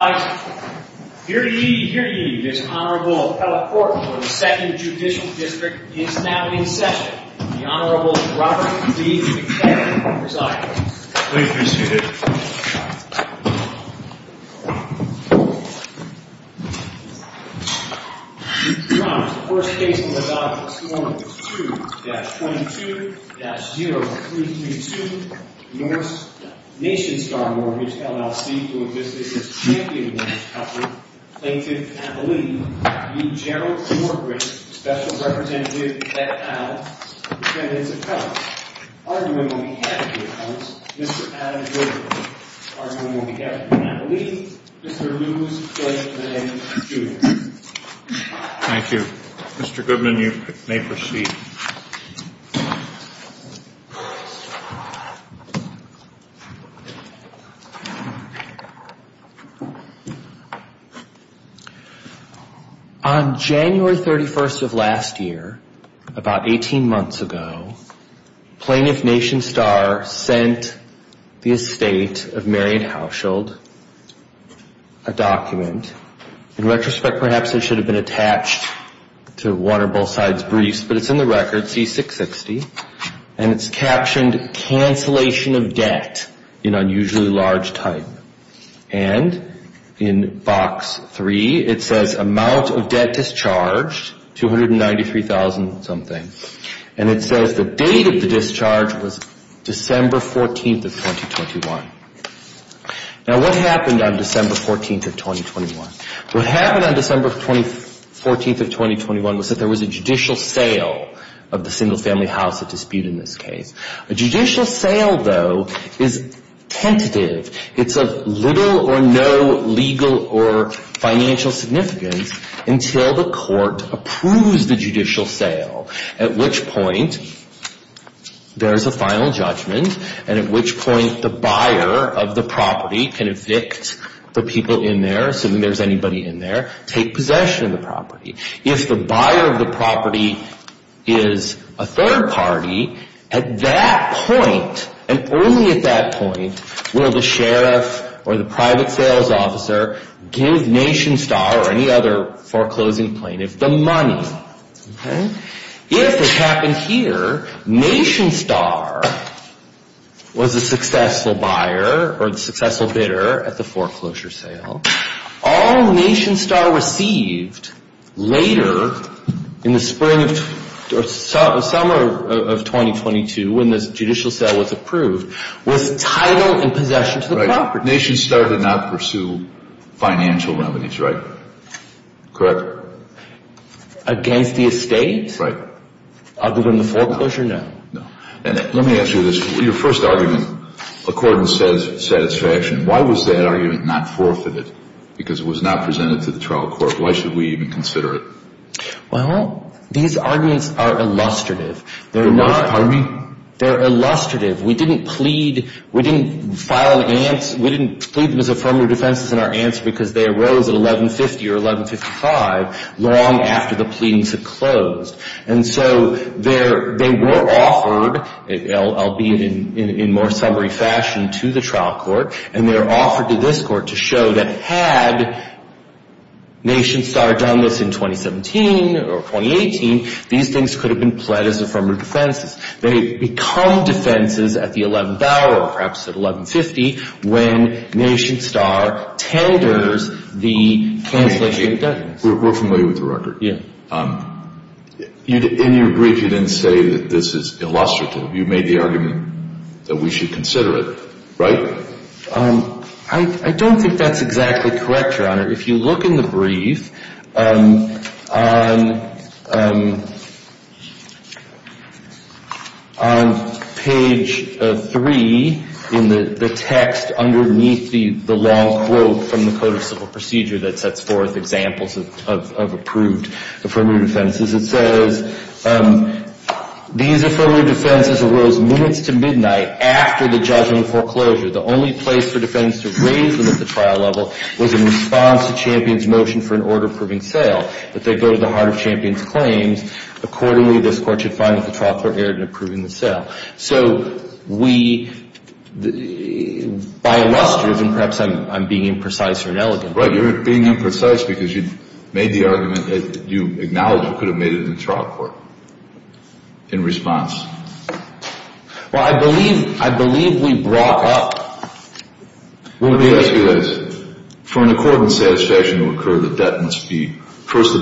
Here to ye, here to ye, this Honorable Pellet Court for the 2nd Judicial District is now in session. The Honorable Robert B. McCann presides. Please be seated. Your Honor, the first case on the docket this morning is 2-22-0332, Norse Nationstar Mortgage, LLC, to investigate its champion mortgage company, plaintiff Abilene v. Gerald Nordgren, special representative at Al, the defendant's account. Arguing on behalf of the accountants, Mr. Adam Jorgensen. Arguing on behalf of the accountants, Mr. Lewis Blakeman, Jr. Thank you. Mr. Goodman, you may proceed. On January 31st of last year, about 18 months ago, plaintiff Nationstar sent the estate of Marion Hauschild a document. In retrospect, perhaps it should have been attached to one or both sides' briefs, but it's in the record, C-660. And it's captioned, Cancellation of Debt in Unusually Large Type. And in box 3, it says, Amount of Debt Discharged, $293,000 something. And it says the date of the discharge was December 14th of 2021. Now, what happened on December 14th of 2021? What happened on December 14th of 2021 was that there was a judicial sale of the single family house at dispute in this case. A judicial sale, though, is tentative. It's of little or no legal or financial significance until the court approves the judicial sale. At which point, there's a final judgment, and at which point the buyer of the property can evict the people in there, assuming there's anybody in there, take possession of the property. If the buyer of the property is a third party, at that point, and only at that point, will the sheriff or the private sales officer give Nationstar or any other foreclosing plaintiff the money. If it happened here, Nationstar was a successful buyer or a successful bidder at the foreclosure sale. All Nationstar received later in the spring or summer of 2022, when this judicial sale was approved, was title and possession to the property. Right. Nationstar did not pursue financial remedies, right? Correct? Against the estate? Right. Other than the foreclosure? No. No. And let me ask you this. Your first argument, according to satisfaction, why was that argument not forfeited? Because it was not presented to the trial court. Why should we even consider it? Well, these arguments are illustrative. They're not. Pardon me? They're illustrative. We didn't plead them as affirmative defenses in our answer because they arose at 1150 or 1155, long after the pleadings had closed. And so they were offered, albeit in more summary fashion, to the trial court. And they were offered to this court to show that had Nationstar done this in 2017 or 2018, these things could have been pled as affirmative defenses. They become defenses at the 11th hour, perhaps at 1150, when Nationstar tenders the cancellation of debt. We're familiar with the record. Yeah. In your brief, you didn't say that this is illustrative. You made the argument that we should consider it, right? I don't think that's exactly correct, Your Honor. If you look in the brief on page 3 in the text underneath the long quote from the Code of Civil Procedure that sets forth examples of approved affirmative defenses, it says, these affirmative defenses arose minutes to midnight after the judgment foreclosure. The only place for defendants to raise them at the trial level was in response to Champion's motion for an order approving sale, that they go to the heart of Champion's claims. Accordingly, this court should find that the trial court erred in approving the sale. So we, by illustrative, and perhaps I'm being imprecise or inelegant. Right. You're being imprecise because you made the argument that you acknowledge you could have made it in the trial court in response. Well, I believe we brought up. Let me ask you this. For an accordance satisfaction to occur, the debtor must first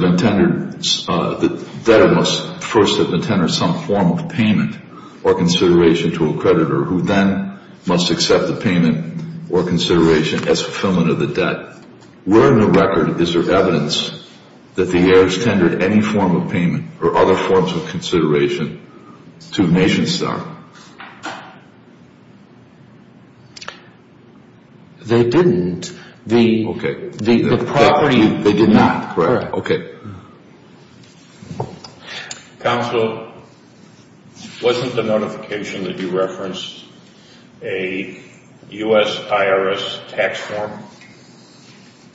have intended some form of payment or consideration to a creditor, who then must accept the payment or consideration as fulfillment of the debt. Where in the record is there evidence that the heirs tendered any form of payment or other forms of consideration to NationStar? They didn't. Okay. The property. They did not. Correct. Okay. Counsel, wasn't the notification that you referenced a U.S. IRS tax form?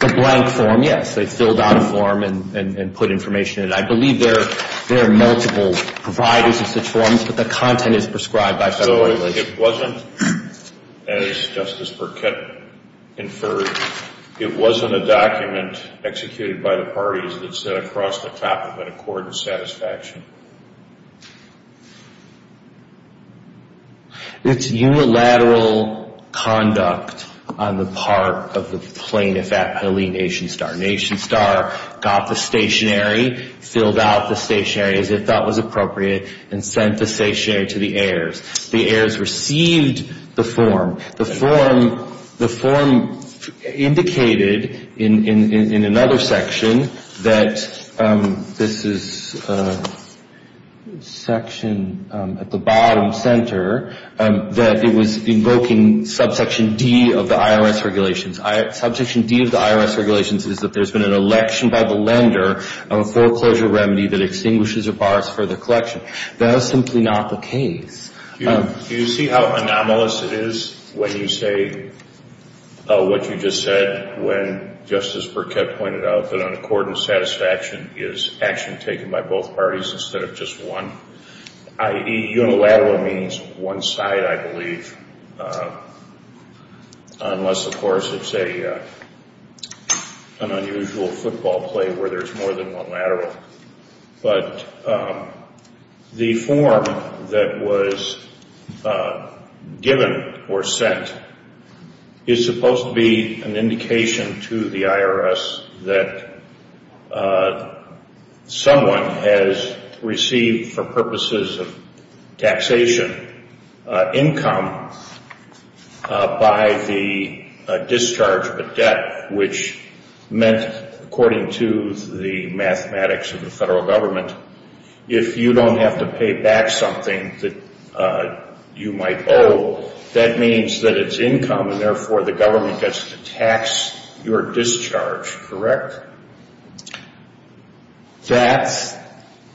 A blank form, yes. They filled out a form and put information in it. I believe there are multiple providers of such forms, but the content is prescribed by federal law. It wasn't, as Justice Burkett inferred, it wasn't a document executed by the parties that set across the top of an accordance satisfaction. It's unilateral conduct on the part of the plaintiff at Pelee NationStar. NationStar got the stationery, filled out the stationery as it thought was appropriate, and sent the stationery to the heirs. The heirs received the form. The form indicated in another section that this is section at the bottom, center, that it was invoking subsection D of the IRS regulations. Subsection D of the IRS regulations is that there's been an election by the lender of a foreclosure remedy that extinguishes or bars further collection. That is simply not the case. Do you see how anomalous it is when you say what you just said when Justice Burkett pointed out that an accordance satisfaction is action taken by both parties instead of just one? Unilateral means one side, I believe, unless, of course, it's an unusual football play where there's more than one lateral. But the form that was given or sent is supposed to be an indication to the IRS that someone has received for purposes of taxation income by the discharge of a debt, which meant, according to the mathematics of the federal government, if you don't have to pay back something that you might owe, that means that it's income and therefore the government gets to tax your discharge, correct? That's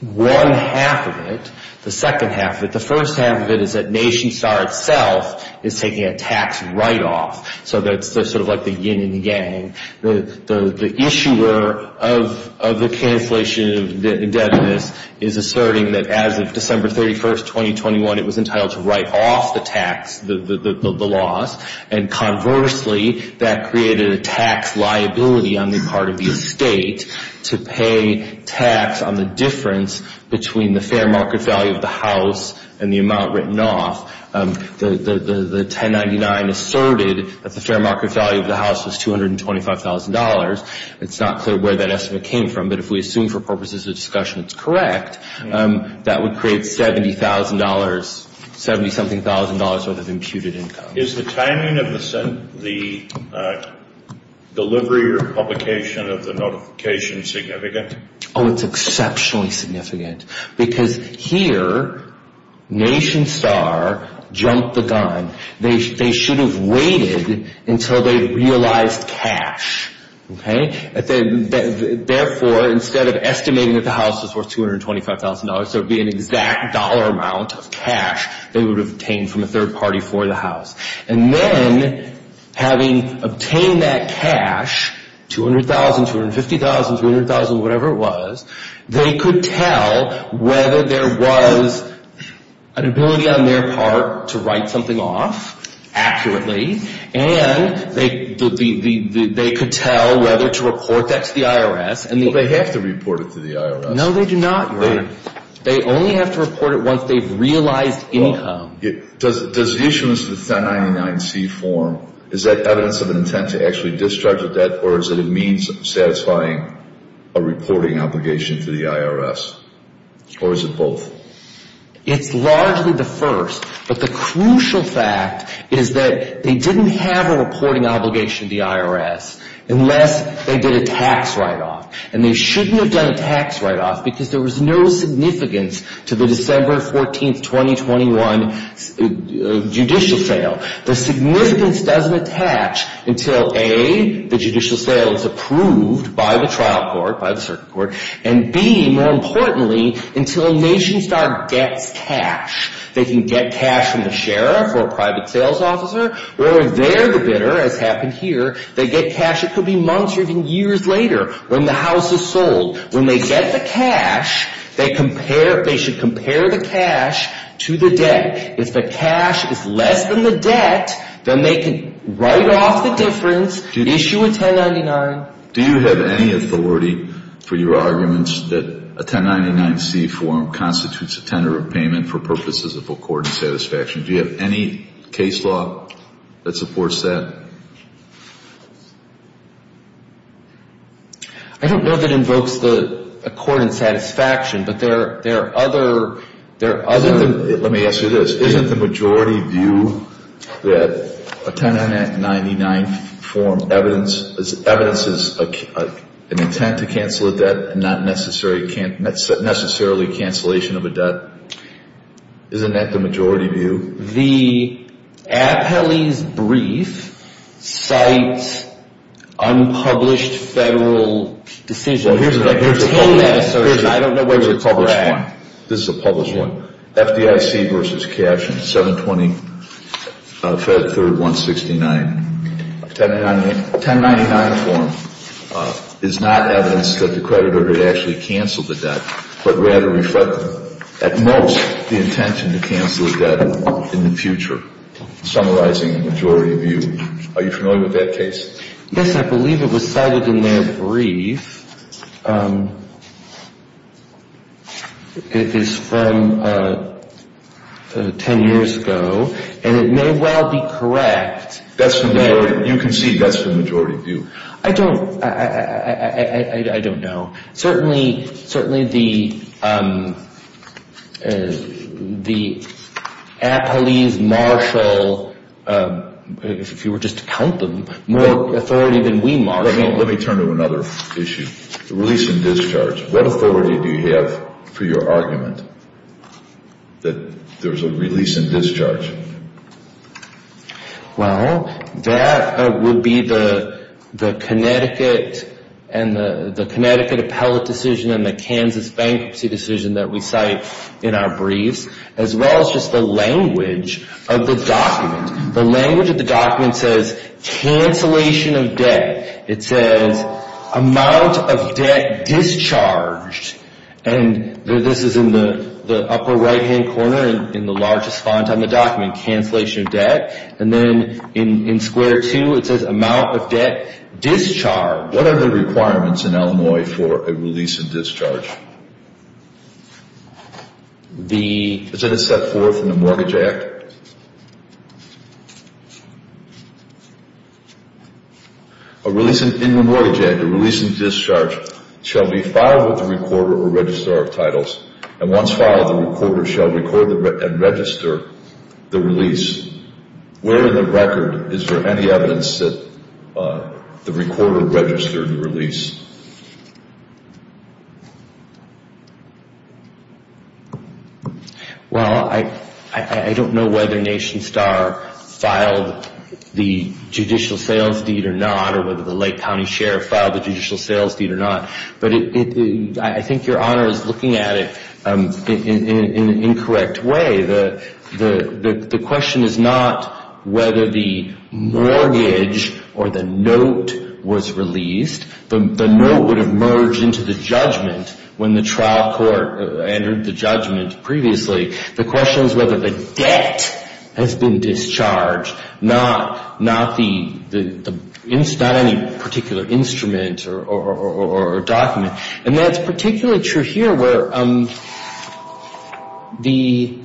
one half of it. The second half of it. The first half of it is that NationStar itself is taking a tax write-off. So that's sort of like the yin and yang. The issuer of the cancellation of the indebtedness is asserting that as of December 31st, 2021, it was entitled to write off the tax, the loss. And conversely, that created a tax liability on the part of the estate to pay tax on the difference between the fair market value of the house and the amount written off. The 1099 asserted that the fair market value of the house was $225,000. It's not clear where that estimate came from, but if we assume for purposes of discussion it's correct, that would create $70,000, 70-something thousand dollars worth of imputed income. Is the timing of the delivery or publication of the notification significant? Oh, it's exceptionally significant. Because here, NationStar jumped the gun. They should have waited until they realized cash. Therefore, instead of estimating that the house was worth $225,000, so it would be an exact dollar amount of cash they would have obtained from a third party for the house. And then, having obtained that cash, $200,000, $250,000, $300,000, whatever it was, they could tell whether there was an ability on their part to write something off accurately. And they could tell whether to report that to the IRS. Well, they have to report it to the IRS. No, they do not. They only have to report it once they've realized income. Does the issuance of the 1099-C form, is that evidence of an intent to actually discharge a debt, or is it a means of satisfying a reporting obligation to the IRS? Or is it both? It's largely the first, but the crucial fact is that they didn't have a reporting obligation to the IRS unless they did a tax write-off. And they shouldn't have done a tax write-off because there was no significance to the December 14, 2021 judicial sale. The significance doesn't attach until, A, the judicial sale is approved by the trial court, by the circuit court, and, B, more importantly, until NationStar gets cash. They can get cash from the sheriff or a private sales officer, or they're the bidder, as happened here. They get cash. It could be months or even years later when the house is sold. When they get the cash, they should compare the cash to the debt. If the cash is less than the debt, then they can write off the difference, issue a 1099. Do you have any authority for your arguments that a 1099-C form constitutes a tender of payment for purposes of accord and satisfaction? Do you have any case law that supports that? I don't know that it invokes the accord and satisfaction, but there are other things. Let me ask you this. Isn't the majority view that a 1099 form evidences an intent to cancel a debt and not necessarily cancellation of a debt? Isn't that the majority view? The appellee's brief cites unpublished federal decisions. Here's a published one. This is a published one. FDIC v. Cash and 720, Fed 3rd 169. 1099 form is not evidence that the creditor had actually canceled the debt, but rather reflected at most the intention to cancel the debt in the future, summarizing the majority view. Are you familiar with that case? Yes, I believe it was cited in their brief. It is from 10 years ago, and it may well be correct. You can see that's the majority view. I don't know. Certainly the appellee's marshal, if you were just to count them, more authority than we marshal. Let me turn to another issue, release and discharge. What authority do you have for your argument that there's a release and discharge? Well, that would be the Connecticut appellate decision and the Kansas bankruptcy decision that we cite in our briefs, as well as just the language of the document. The language of the document says cancellation of debt. It says amount of debt discharged, and this is in the upper right-hand corner in the largest font on the document, cancellation of debt. And then in square two, it says amount of debt discharged. What are the requirements in Illinois for a release and discharge? Is it a set forth in the Mortgage Act? In the Mortgage Act, a release and discharge shall be filed with the recorder or registrar of titles, and once filed, the recorder shall record and register the release. Where in the record is there any evidence that the recorder registered the release? Well, I don't know whether Nation Star filed the judicial sales deed or not, or whether the Lake County Sheriff filed the judicial sales deed or not, but I think Your Honor is looking at it in an incorrect way. The question is not whether the mortgage or the note was released. The note would have merged into the judgment when the trial court entered the judgment previously. The question is whether the debt has been discharged, not any particular instrument or document. And that's particularly true here where the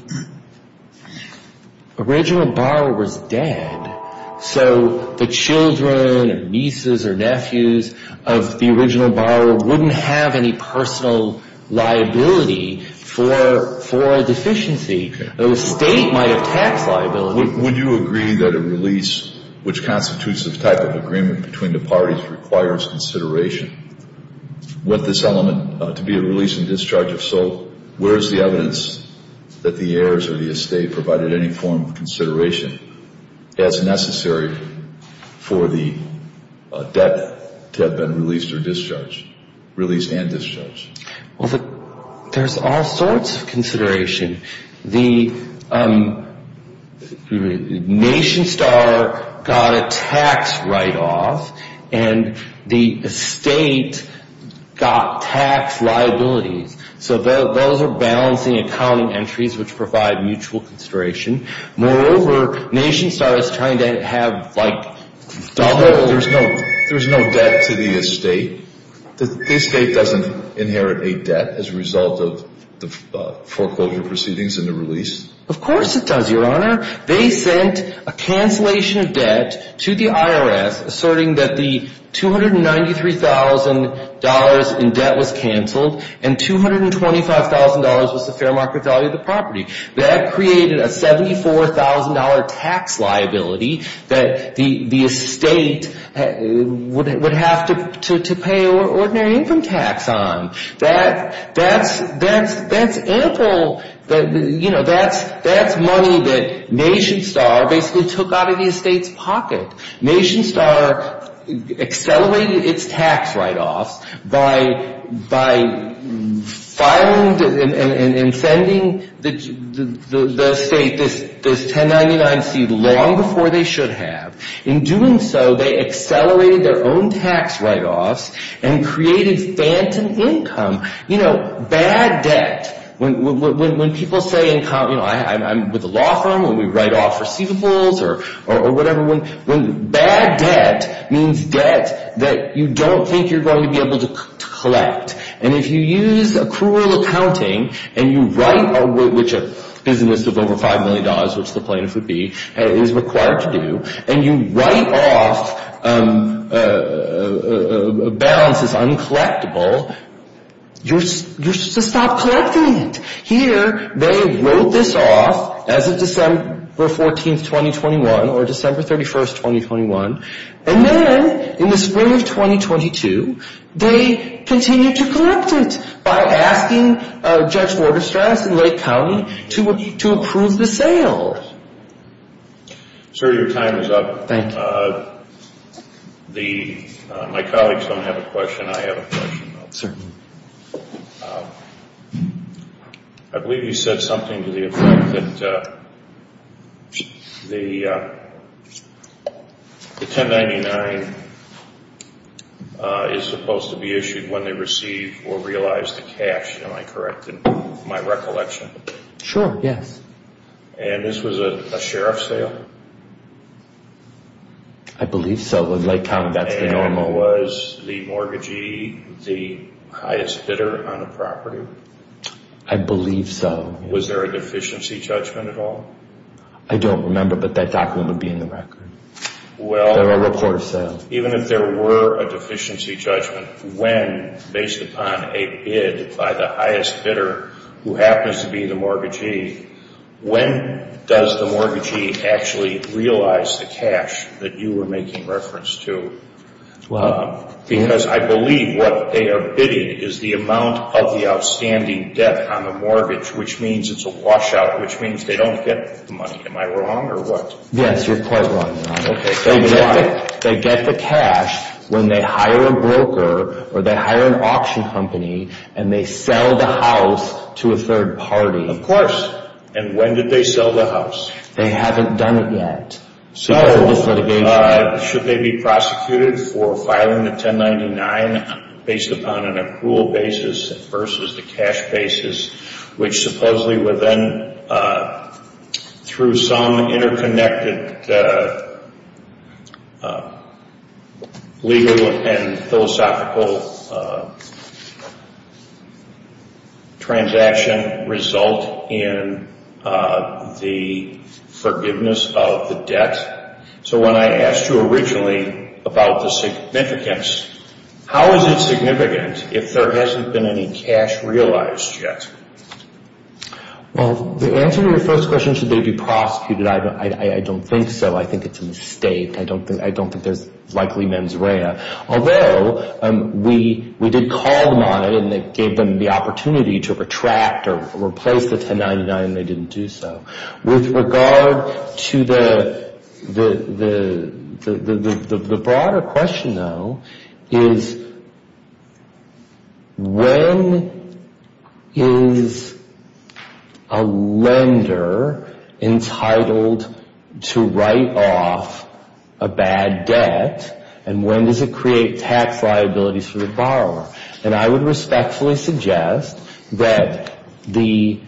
original borrower was dead, so the children and nieces or nephews of the original borrower wouldn't have any personal liability for deficiency. The State might have tax liability. Would you agree that a release, which constitutes the type of agreement between the parties, requires consideration? With this element, to be a release and discharge of sole, where is the evidence that the heirs or the estate provided any form of consideration as necessary for the debt to have been released or discharged, released and discharged? Well, there's all sorts of consideration. The Nation Star got a tax write-off, and the estate got tax liabilities. So those are balancing accounting entries which provide mutual consideration. Moreover, Nation Star is trying to have like double... The estate doesn't inherit a debt as a result of the foreclosure proceedings and the release? Of course it does, Your Honor. They sent a cancellation of debt to the IRS asserting that the $293,000 in debt was canceled and $225,000 was the fair market value of the property. That created a $74,000 tax liability that the estate would have to pay ordinary income tax on. That's ample. You know, that's money that Nation Star basically took out of the estate's pocket. Nation Star accelerated its tax write-offs by filing and sending the estate this 1099C long before they should have. In doing so, they accelerated their own tax write-offs and created phantom income. You know, bad debt. When people say, you know, I'm with a law firm, when we write off receivables or whatever, when bad debt means debt that you don't think you're going to be able to collect. And if you use accrual accounting and you write, which a business of over $5 million, which the plaintiff would be, is required to do, and you write off balances uncollectible, you're supposed to stop collecting it. Here, they wrote this off as of December 14th, 2021, or December 31st, 2021. And then in the spring of 2022, they continued to collect it by asking Judge Waterstrass in Lake County to approve the sale. Sir, your time is up. Thank you. My colleagues don't have a question. I have a question. Certainly. I believe you said something to the effect that the 1099 is supposed to be issued when they receive or realize the cash. Am I correct in my recollection? Sure, yes. And this was a sheriff's sale? I believe so. And was the mortgagee the highest bidder on the property? I believe so. Was there a deficiency judgment at all? I don't remember, but that document would be in the record. Well, even if there were a deficiency judgment, when, based upon a bid by the highest bidder, who happens to be the mortgagee, when does the mortgagee actually realize the cash that you were making reference to? Because I believe what they are bidding is the amount of the outstanding debt on the mortgage, which means it's a washout, which means they don't get the money. Am I wrong or what? Yes, you're quite wrong. They get the cash when they hire a broker or they hire an auction company and they sell the house to a third party. Of course. And when did they sell the house? They haven't done it yet. So should they be prosecuted for filing a 1099 based upon an accrual basis versus the cash basis, which supposedly would then, through some interconnected legal and philosophical transaction, result in the forgiveness of the debt? So when I asked you originally about the significance, how is it significant if there hasn't been any cash realized yet? Well, the answer to your first question, should they be prosecuted, I don't think so. I think it's a mistake. I don't think there's likely mens rea. Although, we did call them on it and gave them the opportunity to retract or replace the 1099 and they didn't do so. With regard to the broader question, though, is when is a lender entitled to write off a bad debt and when does it create tax liabilities for the borrower? And I would respectfully suggest that the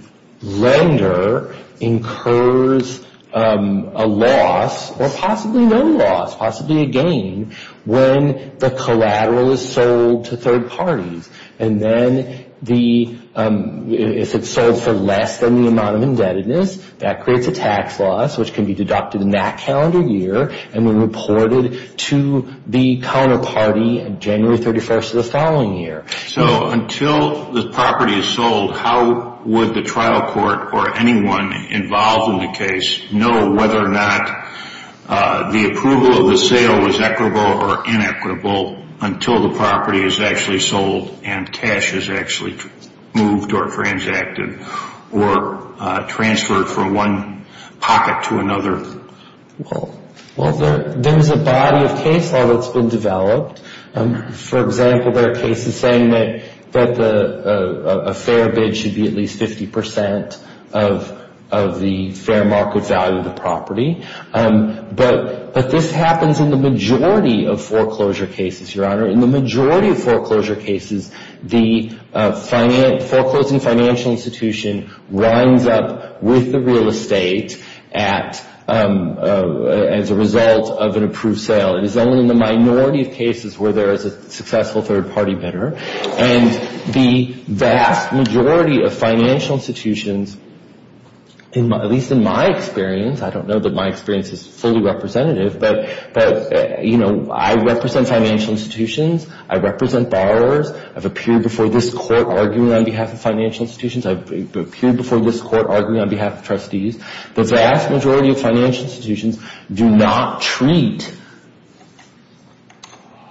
lender incurs a loss, or possibly no loss, possibly a gain, when the collateral is sold to third parties. And then if it's sold for less than the amount of indebtedness, that creates a tax loss, which can be deducted in that calendar year and reported to the counterparty January 31st of the following year. So until the property is sold, how would the trial court or anyone involved in the case know whether or not the approval of the sale was equitable or inequitable until the property is actually sold and cash is actually moved or transacted or transferred from one pocket to another? Well, there is a body of case law that's been developed. For example, there are cases saying that a fair bid should be at least 50% of the fair market value of the property. But this happens in the majority of foreclosure cases, Your Honor. In the majority of foreclosure cases, the foreclosing financial institution winds up with the real estate as a result of an approved sale. It is only in the minority of cases where there is a successful third party bidder. And the vast majority of financial institutions, at least in my experience, I don't know that my experience is fully representative, but I represent financial institutions. I represent borrowers. I've appeared before this court arguing on behalf of financial institutions. I've appeared before this court arguing on behalf of trustees. The vast majority of financial institutions do not treat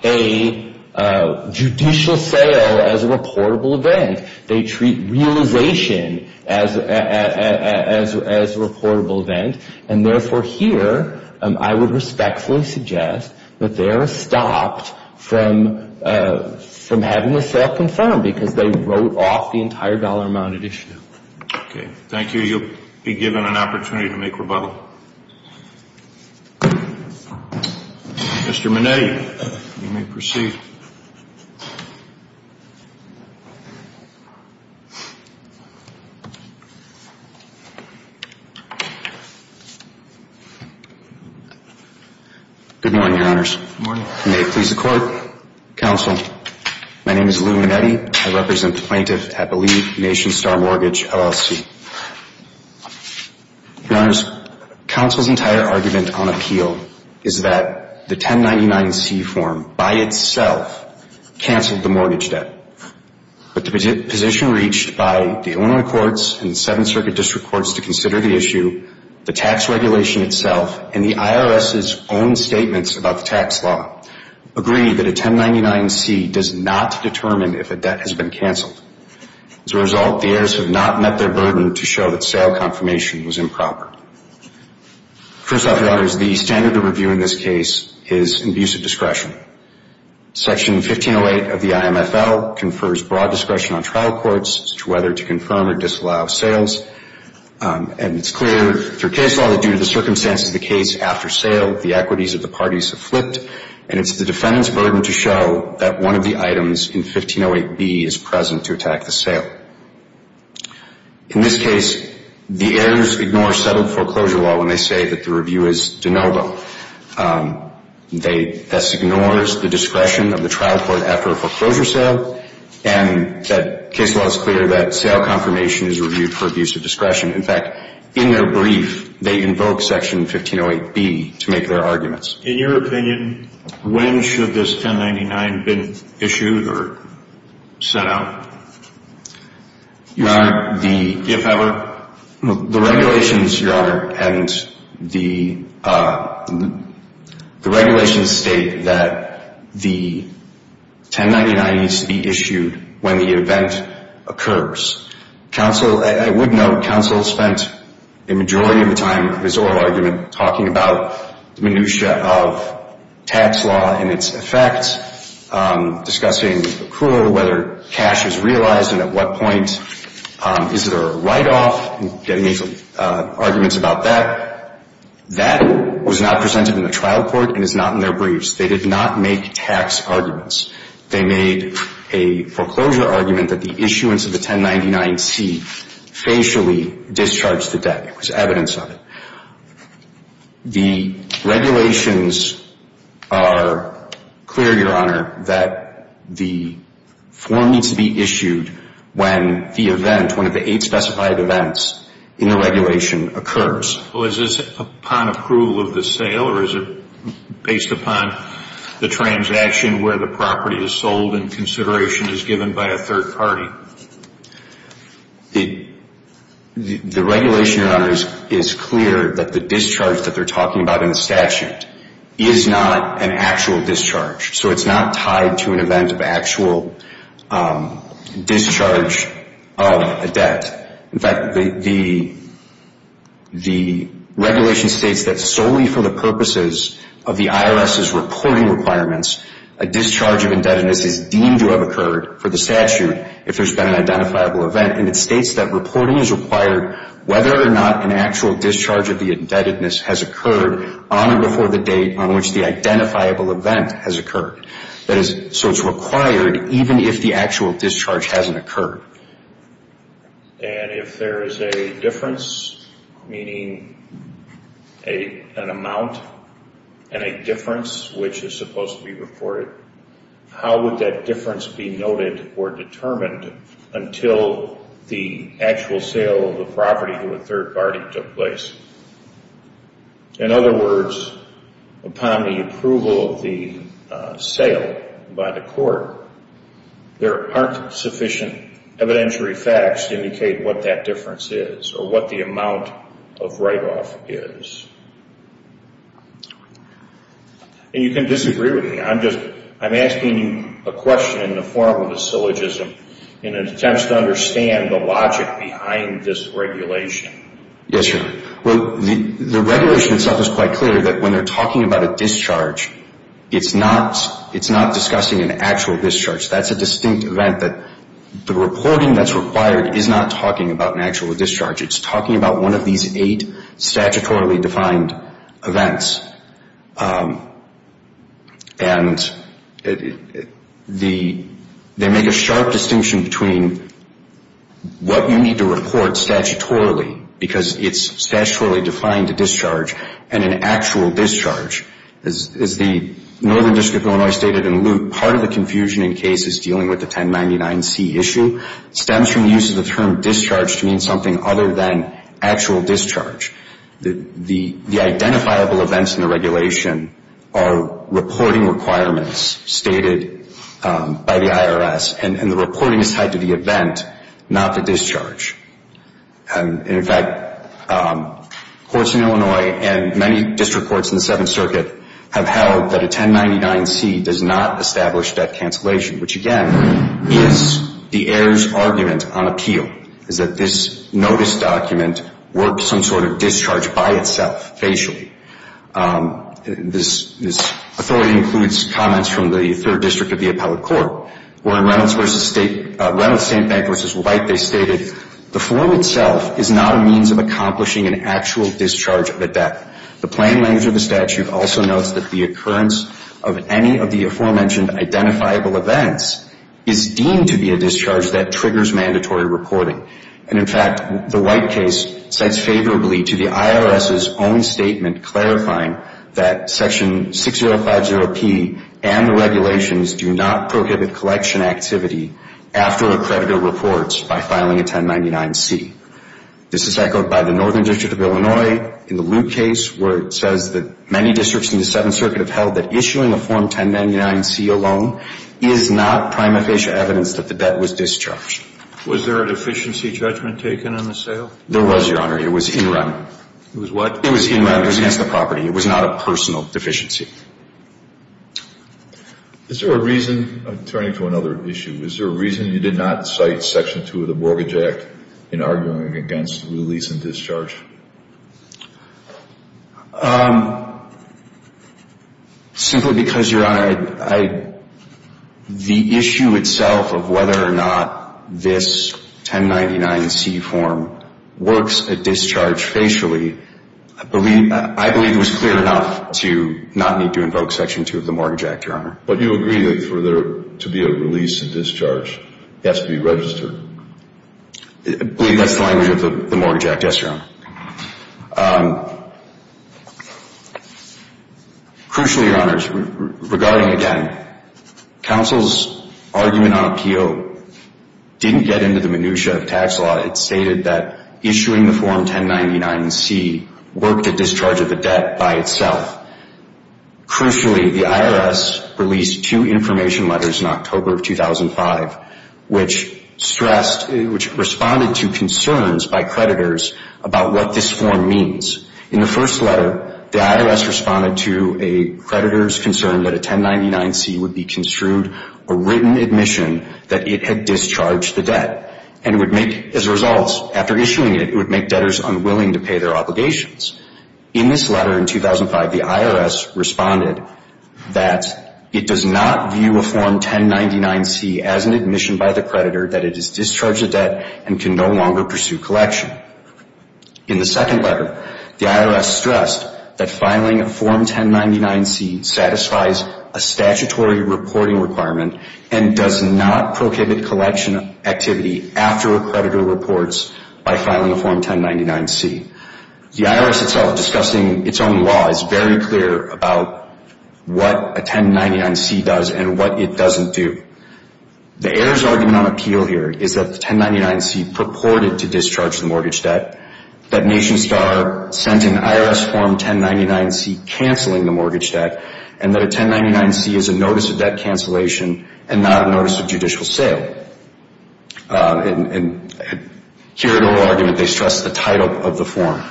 a judicial sale as a reportable event. They treat realization as a reportable event. And, therefore, here I would respectfully suggest that they are stopped from having the sale confirmed because they wrote off the entire dollar amounted issue. Okay. Thank you. You'll be given an opportunity to make rebuttal. Mr. Minetti, you may proceed. Good morning, Your Honors. Good morning. May it please the Court, Counsel, my name is Lou Minetti. I represent the plaintiff at Believe Nation Star Mortgage LLC. Your Honors, Counsel's entire argument on appeal is that the 1099-C form by itself canceled the mortgage debt. But the position reached by the Illinois courts and the Seventh Circuit District Courts to consider the issue, the tax regulation itself, and the IRS's own statements about the tax law agree that a 1099-C does not determine if a debt has been canceled. As a result, the heirs have not met their burden to show that sale confirmation was improper. First off, Your Honors, the standard of review in this case is inbusive discretion. Section 1508 of the IMFL confers broad discretion on trial courts as to whether to confirm or disallow sales. And it's clear through case law that due to the circumstances of the case after sale, the equities of the parties have flipped, and it's the defendant's burden to show that one of the items in 1508B is present to attack the sale. In this case, the heirs ignore settled foreclosure law when they say that the review is de novo. That ignores the discretion of the trial court after a foreclosure sale, and that case law is clear that sale confirmation is reviewed for abuse of discretion. In fact, in their brief, they invoke Section 1508B to make their arguments. In your opinion, when should this 1099 been issued or sent out, if ever? The regulations, Your Honor, and the regulations state that the 1099 needs to be issued when the event occurs. I would note counsel spent a majority of the time of his oral argument talking about the minutiae of tax law and its effects, discussing accrual, whether cash is realized and at what point. Is there a write-off? He made some arguments about that. That was not presented in the trial court and is not in their briefs. They did not make tax arguments. They made a foreclosure argument that the issuance of the 1099C facially discharged the debt. It was evidence of it. The regulations are clear, Your Honor, that the form needs to be issued when the event, one of the eight specified events in the regulation occurs. Is this upon approval of the sale or is it based upon the transaction where the property is sold and consideration is given by a third party? The regulation, Your Honor, is clear that the discharge that they're talking about in the statute is not an actual discharge. So it's not tied to an event of actual discharge of a debt. In fact, the regulation states that solely for the purposes of the IRS's reporting requirements, a discharge of indebtedness is deemed to have occurred for the statute if there's been an identifiable event, and it states that reporting is required whether or not an actual discharge of the indebtedness has occurred on or before the date on which the identifiable event has occurred. So it's required even if the actual discharge hasn't occurred. And if there is a difference, meaning an amount and a difference which is supposed to be reported, how would that difference be noted or determined until the actual sale of the property to a third party took place? In other words, upon the approval of the sale by the court, there aren't sufficient evidentiary facts to indicate what that difference is or what the amount of write-off is. And you can disagree with me. I'm asking you a question in the form of a syllogism in an attempt to understand the logic behind this regulation. Yes, sir. Well, the regulation itself is quite clear that when they're talking about a discharge, it's not discussing an actual discharge. That's a distinct event that the reporting that's required is not talking about an actual discharge. It's talking about one of these eight statutorily defined events. And they make a sharp distinction between what you need to report statutorily, because it's statutorily defined a discharge, and an actual discharge. As the Northern District of Illinois stated in Luke, part of the confusion in the case is dealing with the 1099C issue. It stems from the use of the term discharge to mean something other than actual discharge. The identifiable events in the regulation are reporting requirements stated by the IRS, and the reporting is tied to the event, not the discharge. And, in fact, courts in Illinois and many district courts in the Seventh Circuit have held that a 1099C does not establish debt cancellation, which, again, is the heirs' argument on appeal, is that this notice document works some sort of discharge by itself, facially. This authority includes comments from the Third District of the Appellate Court, where in Reynolds v. State Bank v. White, they stated, the form itself is not a means of accomplishing an actual discharge of a debt. The plain language of the statute also notes that the occurrence of any of the aforementioned identifiable events is deemed to be a discharge that triggers mandatory reporting. And, in fact, the White case sets favorably to the IRS's own statement clarifying that Section 6050P and the regulations do not prohibit collection activity after a creditor reports by filing a 1099C. This is echoed by the Northern District of Illinois in the Luke case, where it says that many districts in the Seventh Circuit have held that issuing a Form 1099C alone is not prima facie evidence that the debt was discharged. Was there a deficiency judgment taken on the sale? There was, Your Honor. It was in run. It was what? It was in run. It was against the property. It was not a personal deficiency. Is there a reason, turning to another issue, is there a reason you did not cite Section 2 of the Mortgage Act in arguing against release and discharge? Simply because, Your Honor, the issue itself of whether or not this 1099C form works at discharge facially, I believe it was clear enough to not need to invoke Section 2 of the Mortgage Act, Your Honor. But you agree that for there to be a release and discharge, it has to be registered. I believe that's the language of the Mortgage Act, yes, Your Honor. Crucially, Your Honors, regarding again, counsel's argument on a P.O. didn't get into the minutiae of tax law. It stated that issuing the Form 1099C worked at discharge of the debt by itself. Crucially, the IRS released two information letters in October of 2005, which stressed, which responded to concerns by creditors about what this form means. In the first letter, the IRS responded to a creditor's concern that a 1099C would be construed, a written admission that it had discharged the debt. And it would make, as a result, after issuing it, it would make debtors unwilling to pay their obligations. In this letter in 2005, the IRS responded that it does not view a Form 1099C as an admission by the creditor that it has discharged the debt and can no longer pursue collection. In the second letter, the IRS stressed that filing a Form 1099C satisfies a statutory reporting requirement and does not prohibit collection activity after a creditor reports by filing a Form 1099C. The IRS itself, discussing its own law, is very clear about what a 1099C does and what it doesn't do. The heirs' argument on appeal here is that the 1099C purported to discharge the mortgage debt, that NationStar sent an IRS Form 1099C canceling the mortgage debt, and that a 1099C is a notice of debt cancellation and not a notice of judicial sale. And here at oral argument, they stress the title of the form.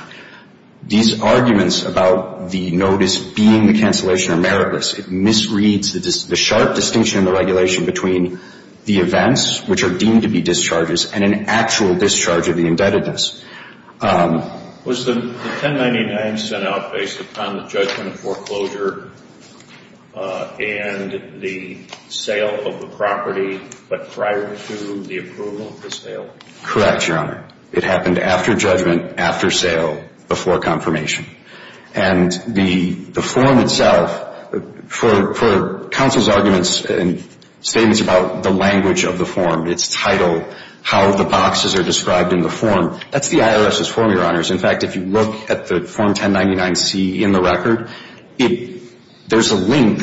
These arguments about the notice being the cancellation are meritless. It misreads the sharp distinction in the regulation between the events, which are deemed to be discharges, and an actual discharge of the indebtedness. Was the 1099C out based upon the judgment of foreclosure and the sale of the property, but prior to the approval of the sale? Correct, Your Honor. It happened after judgment, after sale, before confirmation. And the form itself, for counsel's arguments and statements about the language of the form, its title, how the boxes are described in the form, that's the IRS's form, Your Honors. In fact, if you look at the Form 1099C in the record, there's a link,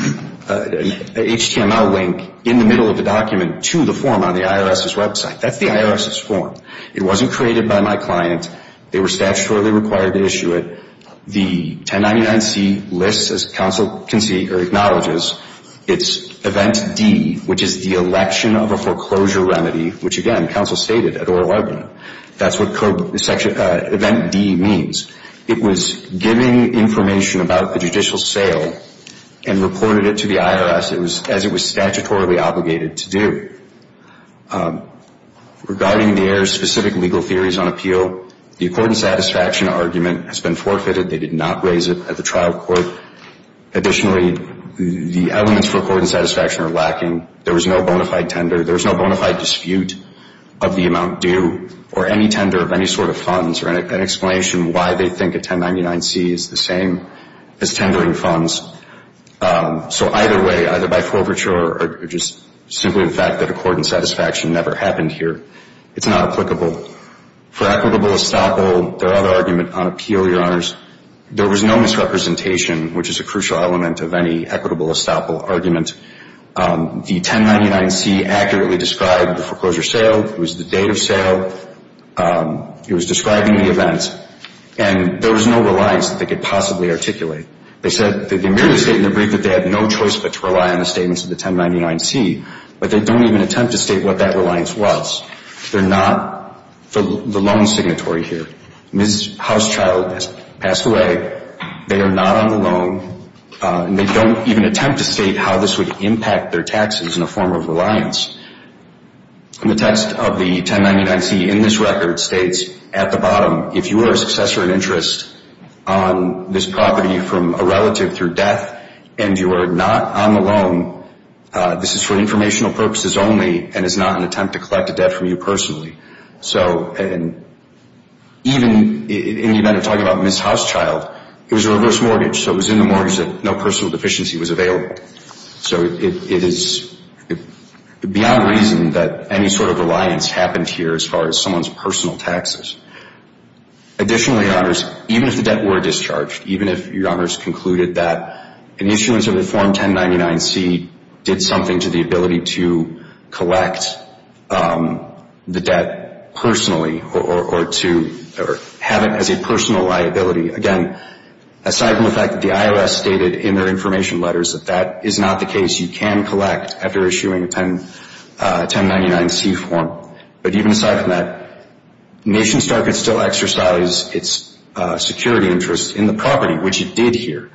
an HTML link in the middle of the document to the form on the IRS's website. That's the IRS's form. It wasn't created by my client. They were statutorily required to issue it. The 1099C lists, as counsel can see or acknowledges, it's event D, which is the election of a foreclosure remedy, which, again, counsel stated at oral argument. That's what event D means. It was giving information about the judicial sale and reported it to the IRS as it was statutorily obligated to do. Regarding their specific legal theories on appeal, the accord and satisfaction argument has been forfeited. They did not raise it at the trial court. Additionally, the elements for accord and satisfaction are lacking. There was no bona fide tender. There was no bona fide dispute of the amount due or any tender of any sort of funds or an explanation why they think a 1099C is the same as tendering funds. So either way, either by forfeiture or just simply the fact that accord and satisfaction never happened here, it's not applicable. There was no misrepresentation, which is a crucial element of any equitable estoppel argument. The 1099C accurately described the foreclosure sale. It was the date of sale. It was describing the event. And there was no reliance that they could possibly articulate. They said that they merely stated in their brief that they had no choice but to rely on the statements of the 1099C, but they don't even attempt to state what that reliance was. They're not the loan signatory here. Ms. Housechild has passed away. They are not on the loan. And they don't even attempt to state how this would impact their taxes in the form of reliance. And the text of the 1099C in this record states at the bottom, if you are a successor in interest on this property from a relative through death and you are not on the loan, this is for informational purposes only and is not an attempt to collect a debt from you personally. So even in the event of talking about Ms. Housechild, it was a reverse mortgage, so it was in the mortgage that no personal deficiency was available. So it is beyond reason that any sort of reliance happened here as far as someone's personal taxes. Additionally, Your Honors, even if the debt were discharged, even if Your Honors concluded that an issuance of the Form 1099C did something to the ability to collect the debt personally or to have it as a personal liability, again, aside from the fact that the IRS stated in their information letters that that is not the case, you can collect after issuing a 1099C form. But even aside from that, NationStar could still exercise its security interest in the property, which it did here.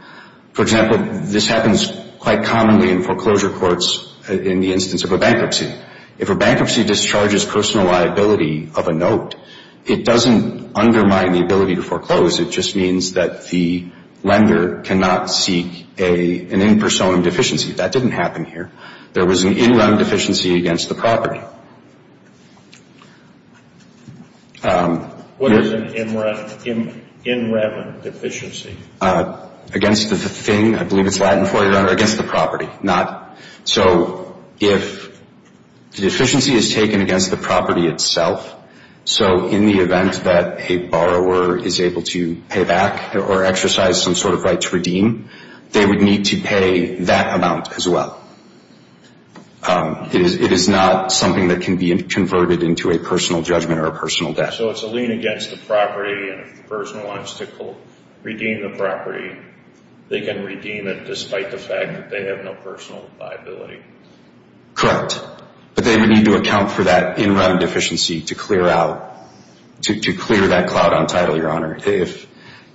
For example, this happens quite commonly in foreclosure courts in the instance of a bankruptcy. If a bankruptcy discharges personal liability of a note, it doesn't undermine the ability to foreclose. It just means that the lender cannot seek an in person deficiency. That didn't happen here. There was an in rem deficiency against the property. What is an in rem deficiency? Against the thing. I believe it's Latin for you, Your Honor. Against the property, not. So if the deficiency is taken against the property itself, so in the event that a borrower is able to pay back or exercise some sort of right to redeem, they would need to pay that amount as well. It is not something that can be converted into a personal judgment or a personal debt. So it's a lien against the property, and if the person wants to redeem the property, they can redeem it despite the fact that they have no personal liability. Correct. But they would need to account for that in rem deficiency to clear out, to clear that cloud on title, Your Honor. If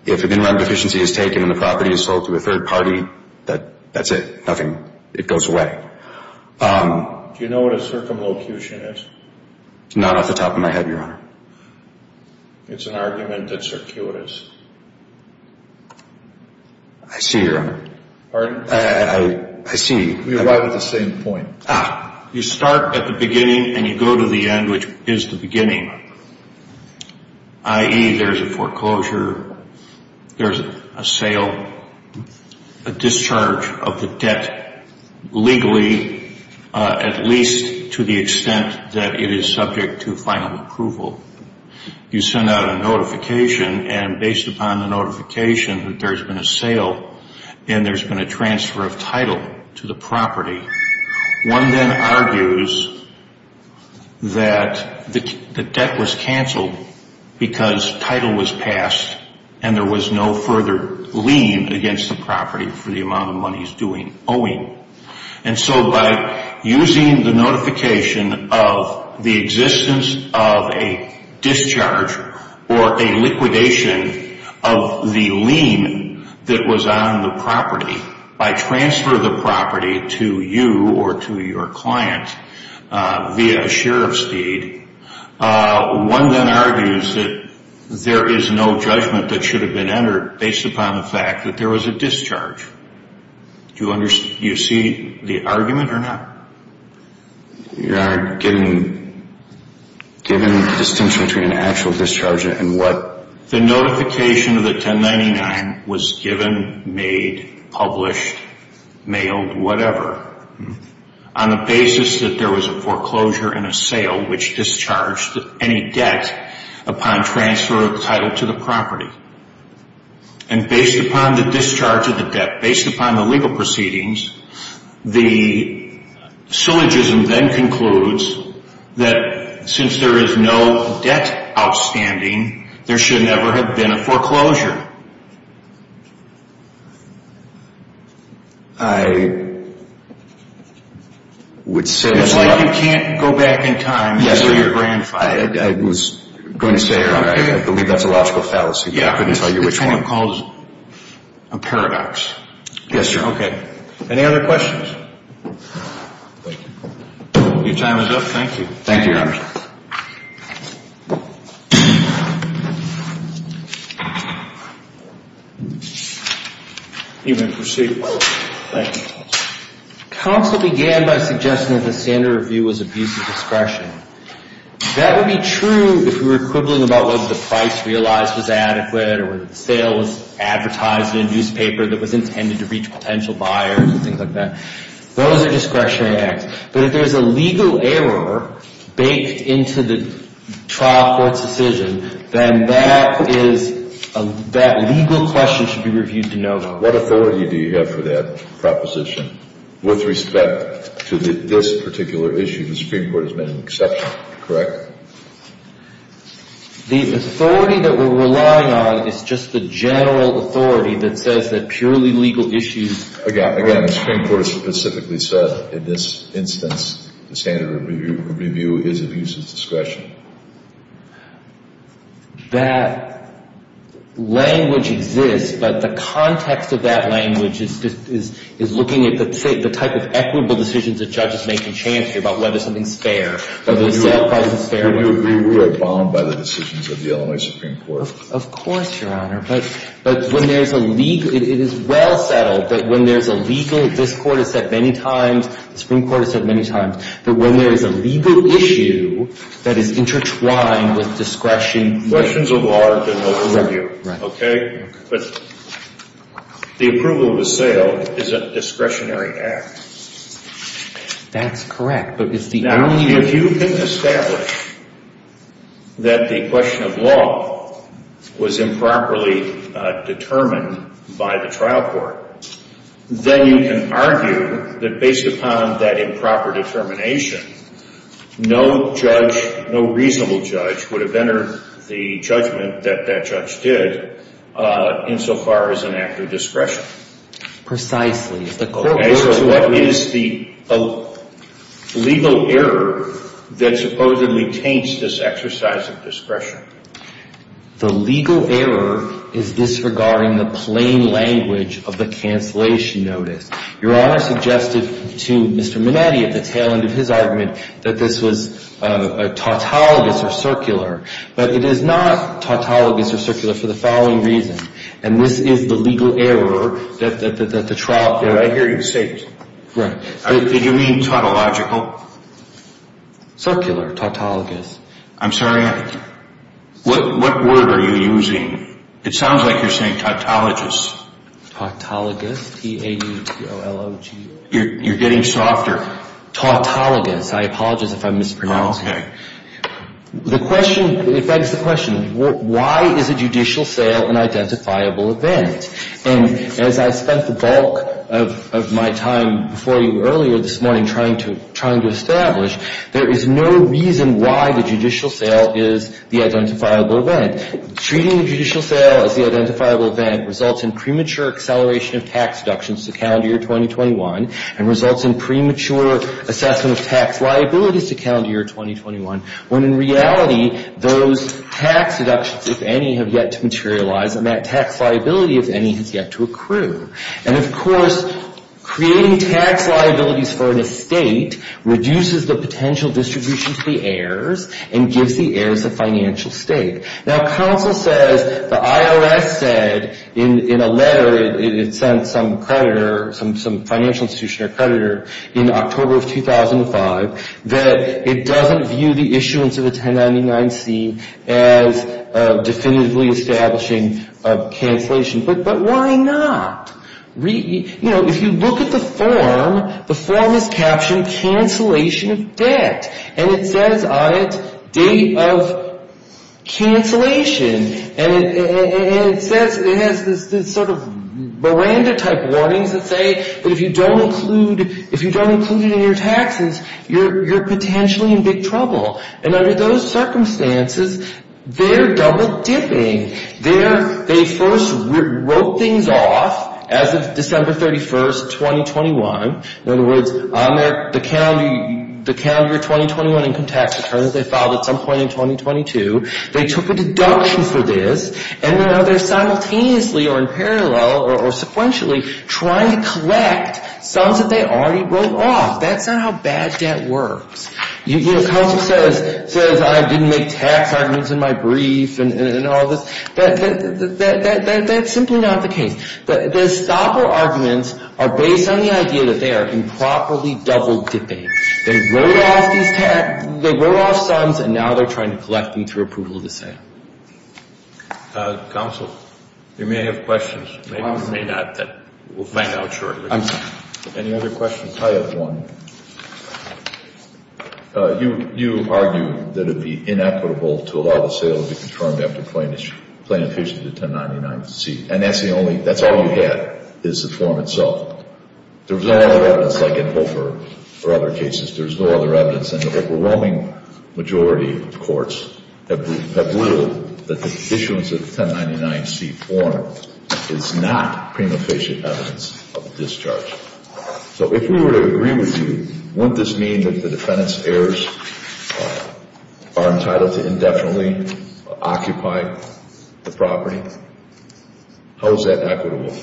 an in rem deficiency is taken and the property is sold to a third party, that's it, nothing. It goes away. Do you know what a circumlocution is? Not off the top of my head, Your Honor. It's an argument that circuitous. I see, Your Honor. Pardon? I see. We arrive at the same point. You start at the beginning and you go to the end, which is the beginning, i.e., there's a foreclosure, there's a sale, a discharge of the debt legally at least to the extent that it is subject to final approval. You send out a notification, and based upon the notification that there's been a sale and there's been a transfer of title to the property, one then argues that the debt was canceled because title was passed and there was no further lien against the property for the amount of money he's doing owing. And so by using the notification of the existence of a discharge or a liquidation of the lien that was on the property, by transfer of the property to you or to your client via a sheriff's deed, one then argues that there is no judgment that should have been entered based upon the fact that there was a discharge. Do you see the argument or not? Your Honor, given the distinction between an actual discharge and what? The notification of the 1099 was given, made, published, mailed, whatever, on the basis that there was a foreclosure and a sale, which discharged any debt upon transfer of the title to the property. And based upon the discharge of the debt, based upon the legal proceedings, the syllogism then concludes that since there is no debt outstanding, there should never have been a foreclosure. I would say it's not. It's like you can't go back in time to your grandfather. I was going to say earlier, I believe that's a logical fallacy, but I couldn't tell you which one. It kind of calls a paradox. Yes, Your Honor. Okay. Any other questions? Your time is up. Thank you. Thank you, Your Honor. You may proceed. Thank you. Counsel began by suggesting that the standard review was abuse of discretion. That would be true if we were quibbling about whether the price realized was adequate or whether the sale was advertised in a newspaper that was intended to reach potential buyers and things like that. Those are discretionary acts. But if there's a legal error baked into the trial court's decision, then that legal question should be reviewed to note. What authority do you have for that proposition with respect to this particular issue? The Supreme Court has made an exception, correct? The authority that we're relying on is just the general authority that says that purely legal issues. Again, the Supreme Court has specifically said in this instance, the standard review is abuse of discretion. That language exists, but the context of that language is looking at the type of equitable decisions that judges make and chance here about whether something's fair, whether the sale price is fair or not. Do you agree we are bound by the decisions of the Illinois Supreme Court? Of course, Your Honor. But when there's a legal – it is well settled that when there's a legal – this Court has said many times, the Supreme Court has said many times, that when there is a legal issue that is intertwined with discretion – Questions of law are to note the review, okay? But the approval of a sale is a discretionary act. That's correct, but it's the only – Now, if you can establish that the question of law was improperly determined by the trial court, then you can argue that based upon that improper determination, no judge, no reasonable judge would have entered the judgment that that judge did insofar as an act of discretion. Precisely. Okay, so what is the legal error that supposedly taints this exercise of discretion? The legal error is disregarding the plain language of the cancellation notice. Your Honor suggested to Mr. Minetti at the tail end of his argument that this was a tautologous or circular, but it is not tautologous or circular for the following reason, and this is the legal error that the trial – I hear you say it. Right. Did you mean tautological? Circular, tautologous. I'm sorry, what word are you using? It sounds like you're saying tautologous. Tautologous, T-A-U-T-O-L-O-G-O. You're getting softer. Tautologous, I apologize if I'm mispronouncing it. Okay. The question – it begs the question, why is a judicial sale an identifiable event? And as I spent the bulk of my time before you earlier this morning trying to establish, there is no reason why the judicial sale is the identifiable event. Treating a judicial sale as the identifiable event results in premature acceleration of tax deductions to calendar year 2021 and results in premature assessment of tax liabilities to calendar year 2021, when in reality those tax deductions, if any, have yet to materialize, and that tax liability, if any, has yet to accrue. And, of course, creating tax liabilities for an estate reduces the potential distribution to the heirs and gives the heirs a financial stake. Now, counsel says, the IRS said in a letter it sent some creditor, some financial institution or creditor, in October of 2005 that it doesn't view the issuance of a 1099-C as definitively establishing cancellation. But why not? You know, if you look at the form, the form is captioned cancellation of debt. And it says on it date of cancellation. And it says – it has this sort of Miranda-type warnings that say that if you don't include it in your taxes, you're potentially in big trouble. And under those circumstances, they're double-dipping. They first wrote things off as of December 31, 2021. In other words, on the calendar year 2021 income tax return that they filed at some point in 2022, they took a deduction for this, and now they're simultaneously or in parallel or sequentially trying to collect sums that they already wrote off. That's not how bad debt works. You know, counsel says, I didn't make tax arguments in my brief and all this. That's simply not the case. The stopper arguments are based on the idea that they are improperly double-dipping. They wrote off these – they wrote off sums, and now they're trying to collect them through approval of the sale. Counsel, you may have questions. You may or may not. We'll find out shortly. Any other questions? I have one. You argue that it would be inequitable to allow the sale to be confirmed after plain efficient at 1099C. And that's the only – that's all you get is the form itself. There's no other evidence like in Hofer or other cases. There's no other evidence. And the overwhelming majority of courts have ruled that the issuance of the 1099C form is not prima facie evidence of discharge. So if we were to agree with you, wouldn't this mean that the defendant's heirs are entitled to indefinitely occupy the property? How is that equitable?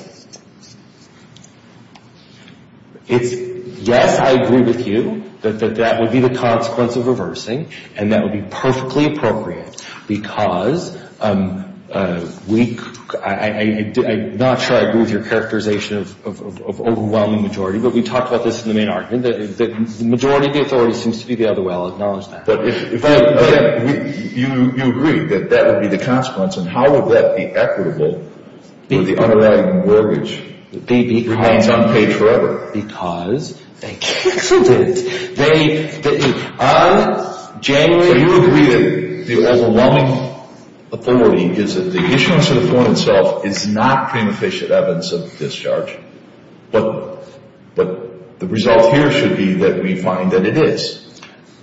It's – yes, I agree with you that that would be the consequence of reversing, and that would be perfectly appropriate because we – I'm not sure I agree with your characterization of overwhelming majority, but we talked about this in the main argument, that the majority of the authority seems to be able to well acknowledge that. But if – you agree that that would be the consequence. And how would that be equitable for the underlying mortgage that remains unpaid forever? Because they canceled it. They – on January – So you agree that the overwhelming authority is that the issuance of the form itself is not prima facie evidence of discharge. But the result here should be that we find that it is.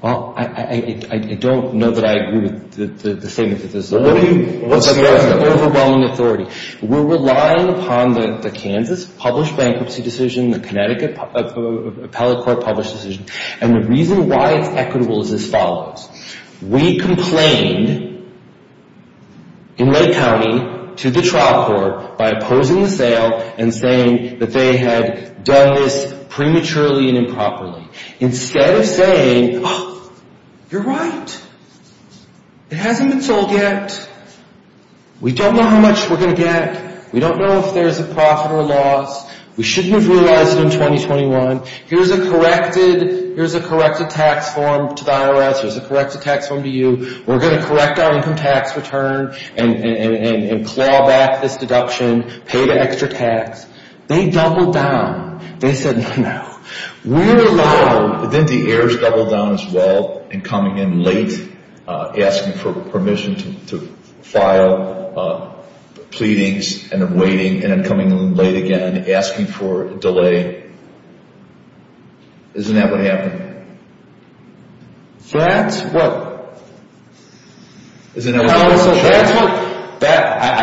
Well, I don't know that I agree with the statement that this is – Well, what do you – what's the rationale? Overwhelming authority. We're relying upon the Kansas published bankruptcy decision, the Connecticut appellate court published decision. And the reason why it's equitable is as follows. We complained in Lake County to the trial court by opposing the sale and saying that they had done this prematurely and improperly. Instead of saying, oh, you're right. It hasn't been sold yet. We don't know how much we're going to get. We don't know if there's a profit or loss. We shouldn't have realized it in 2021. Here's a corrected – here's a corrected tax form to the IRS. Here's a corrected tax form to you. We're going to correct our income tax return and claw back this deduction, pay the extra tax. They doubled down. They said, no, no. We're allowing – Didn't the heirs double down as well in coming in late, asking for permission to file pleadings and then waiting, and then coming in late again and asking for a delay? Isn't that what happened? That's what – I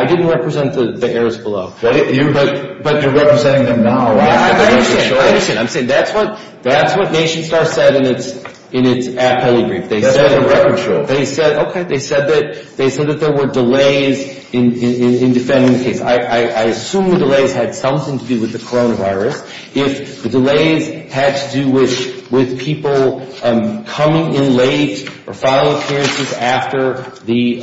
didn't represent the heirs below. But you're representing them now. I understand. I understand. I'm saying that's what – that's what NationStar said in its appellee brief. That's what the records show. They said – okay. They said that – they said that there were delays in defending the case. I assume the delays had something to do with the coronavirus. If the delays had to do with people coming in late or file appearances after the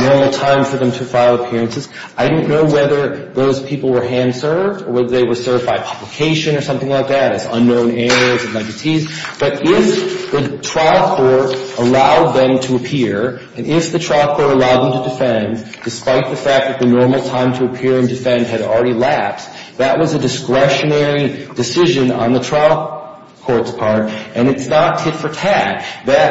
normal time for them to file appearances, I didn't know whether those people were hand-served or whether they were served by publication or something like that, as unknown heirs and entities. But if the trial court allowed them to appear, and if the trial court allowed them to defend, despite the fact that the normal time to appear and defend had already lapsed, that was a discretionary decision on the trial court's part. And it's not tit-for-tat.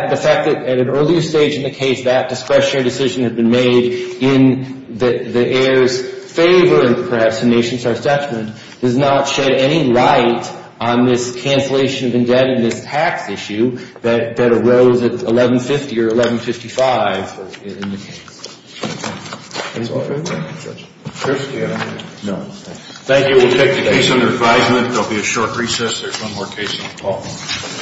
The fact that at an earlier stage in the case that discretionary decision had been made in the heirs' favor, and perhaps in NationStar's judgment, does not shed any light on this cancellation of indebtedness tax issue that arose at 1150 or 1155 in the case. That's all I have. Thank you. We'll take the case under advisement. There will be a short recess. There's one more case on the call.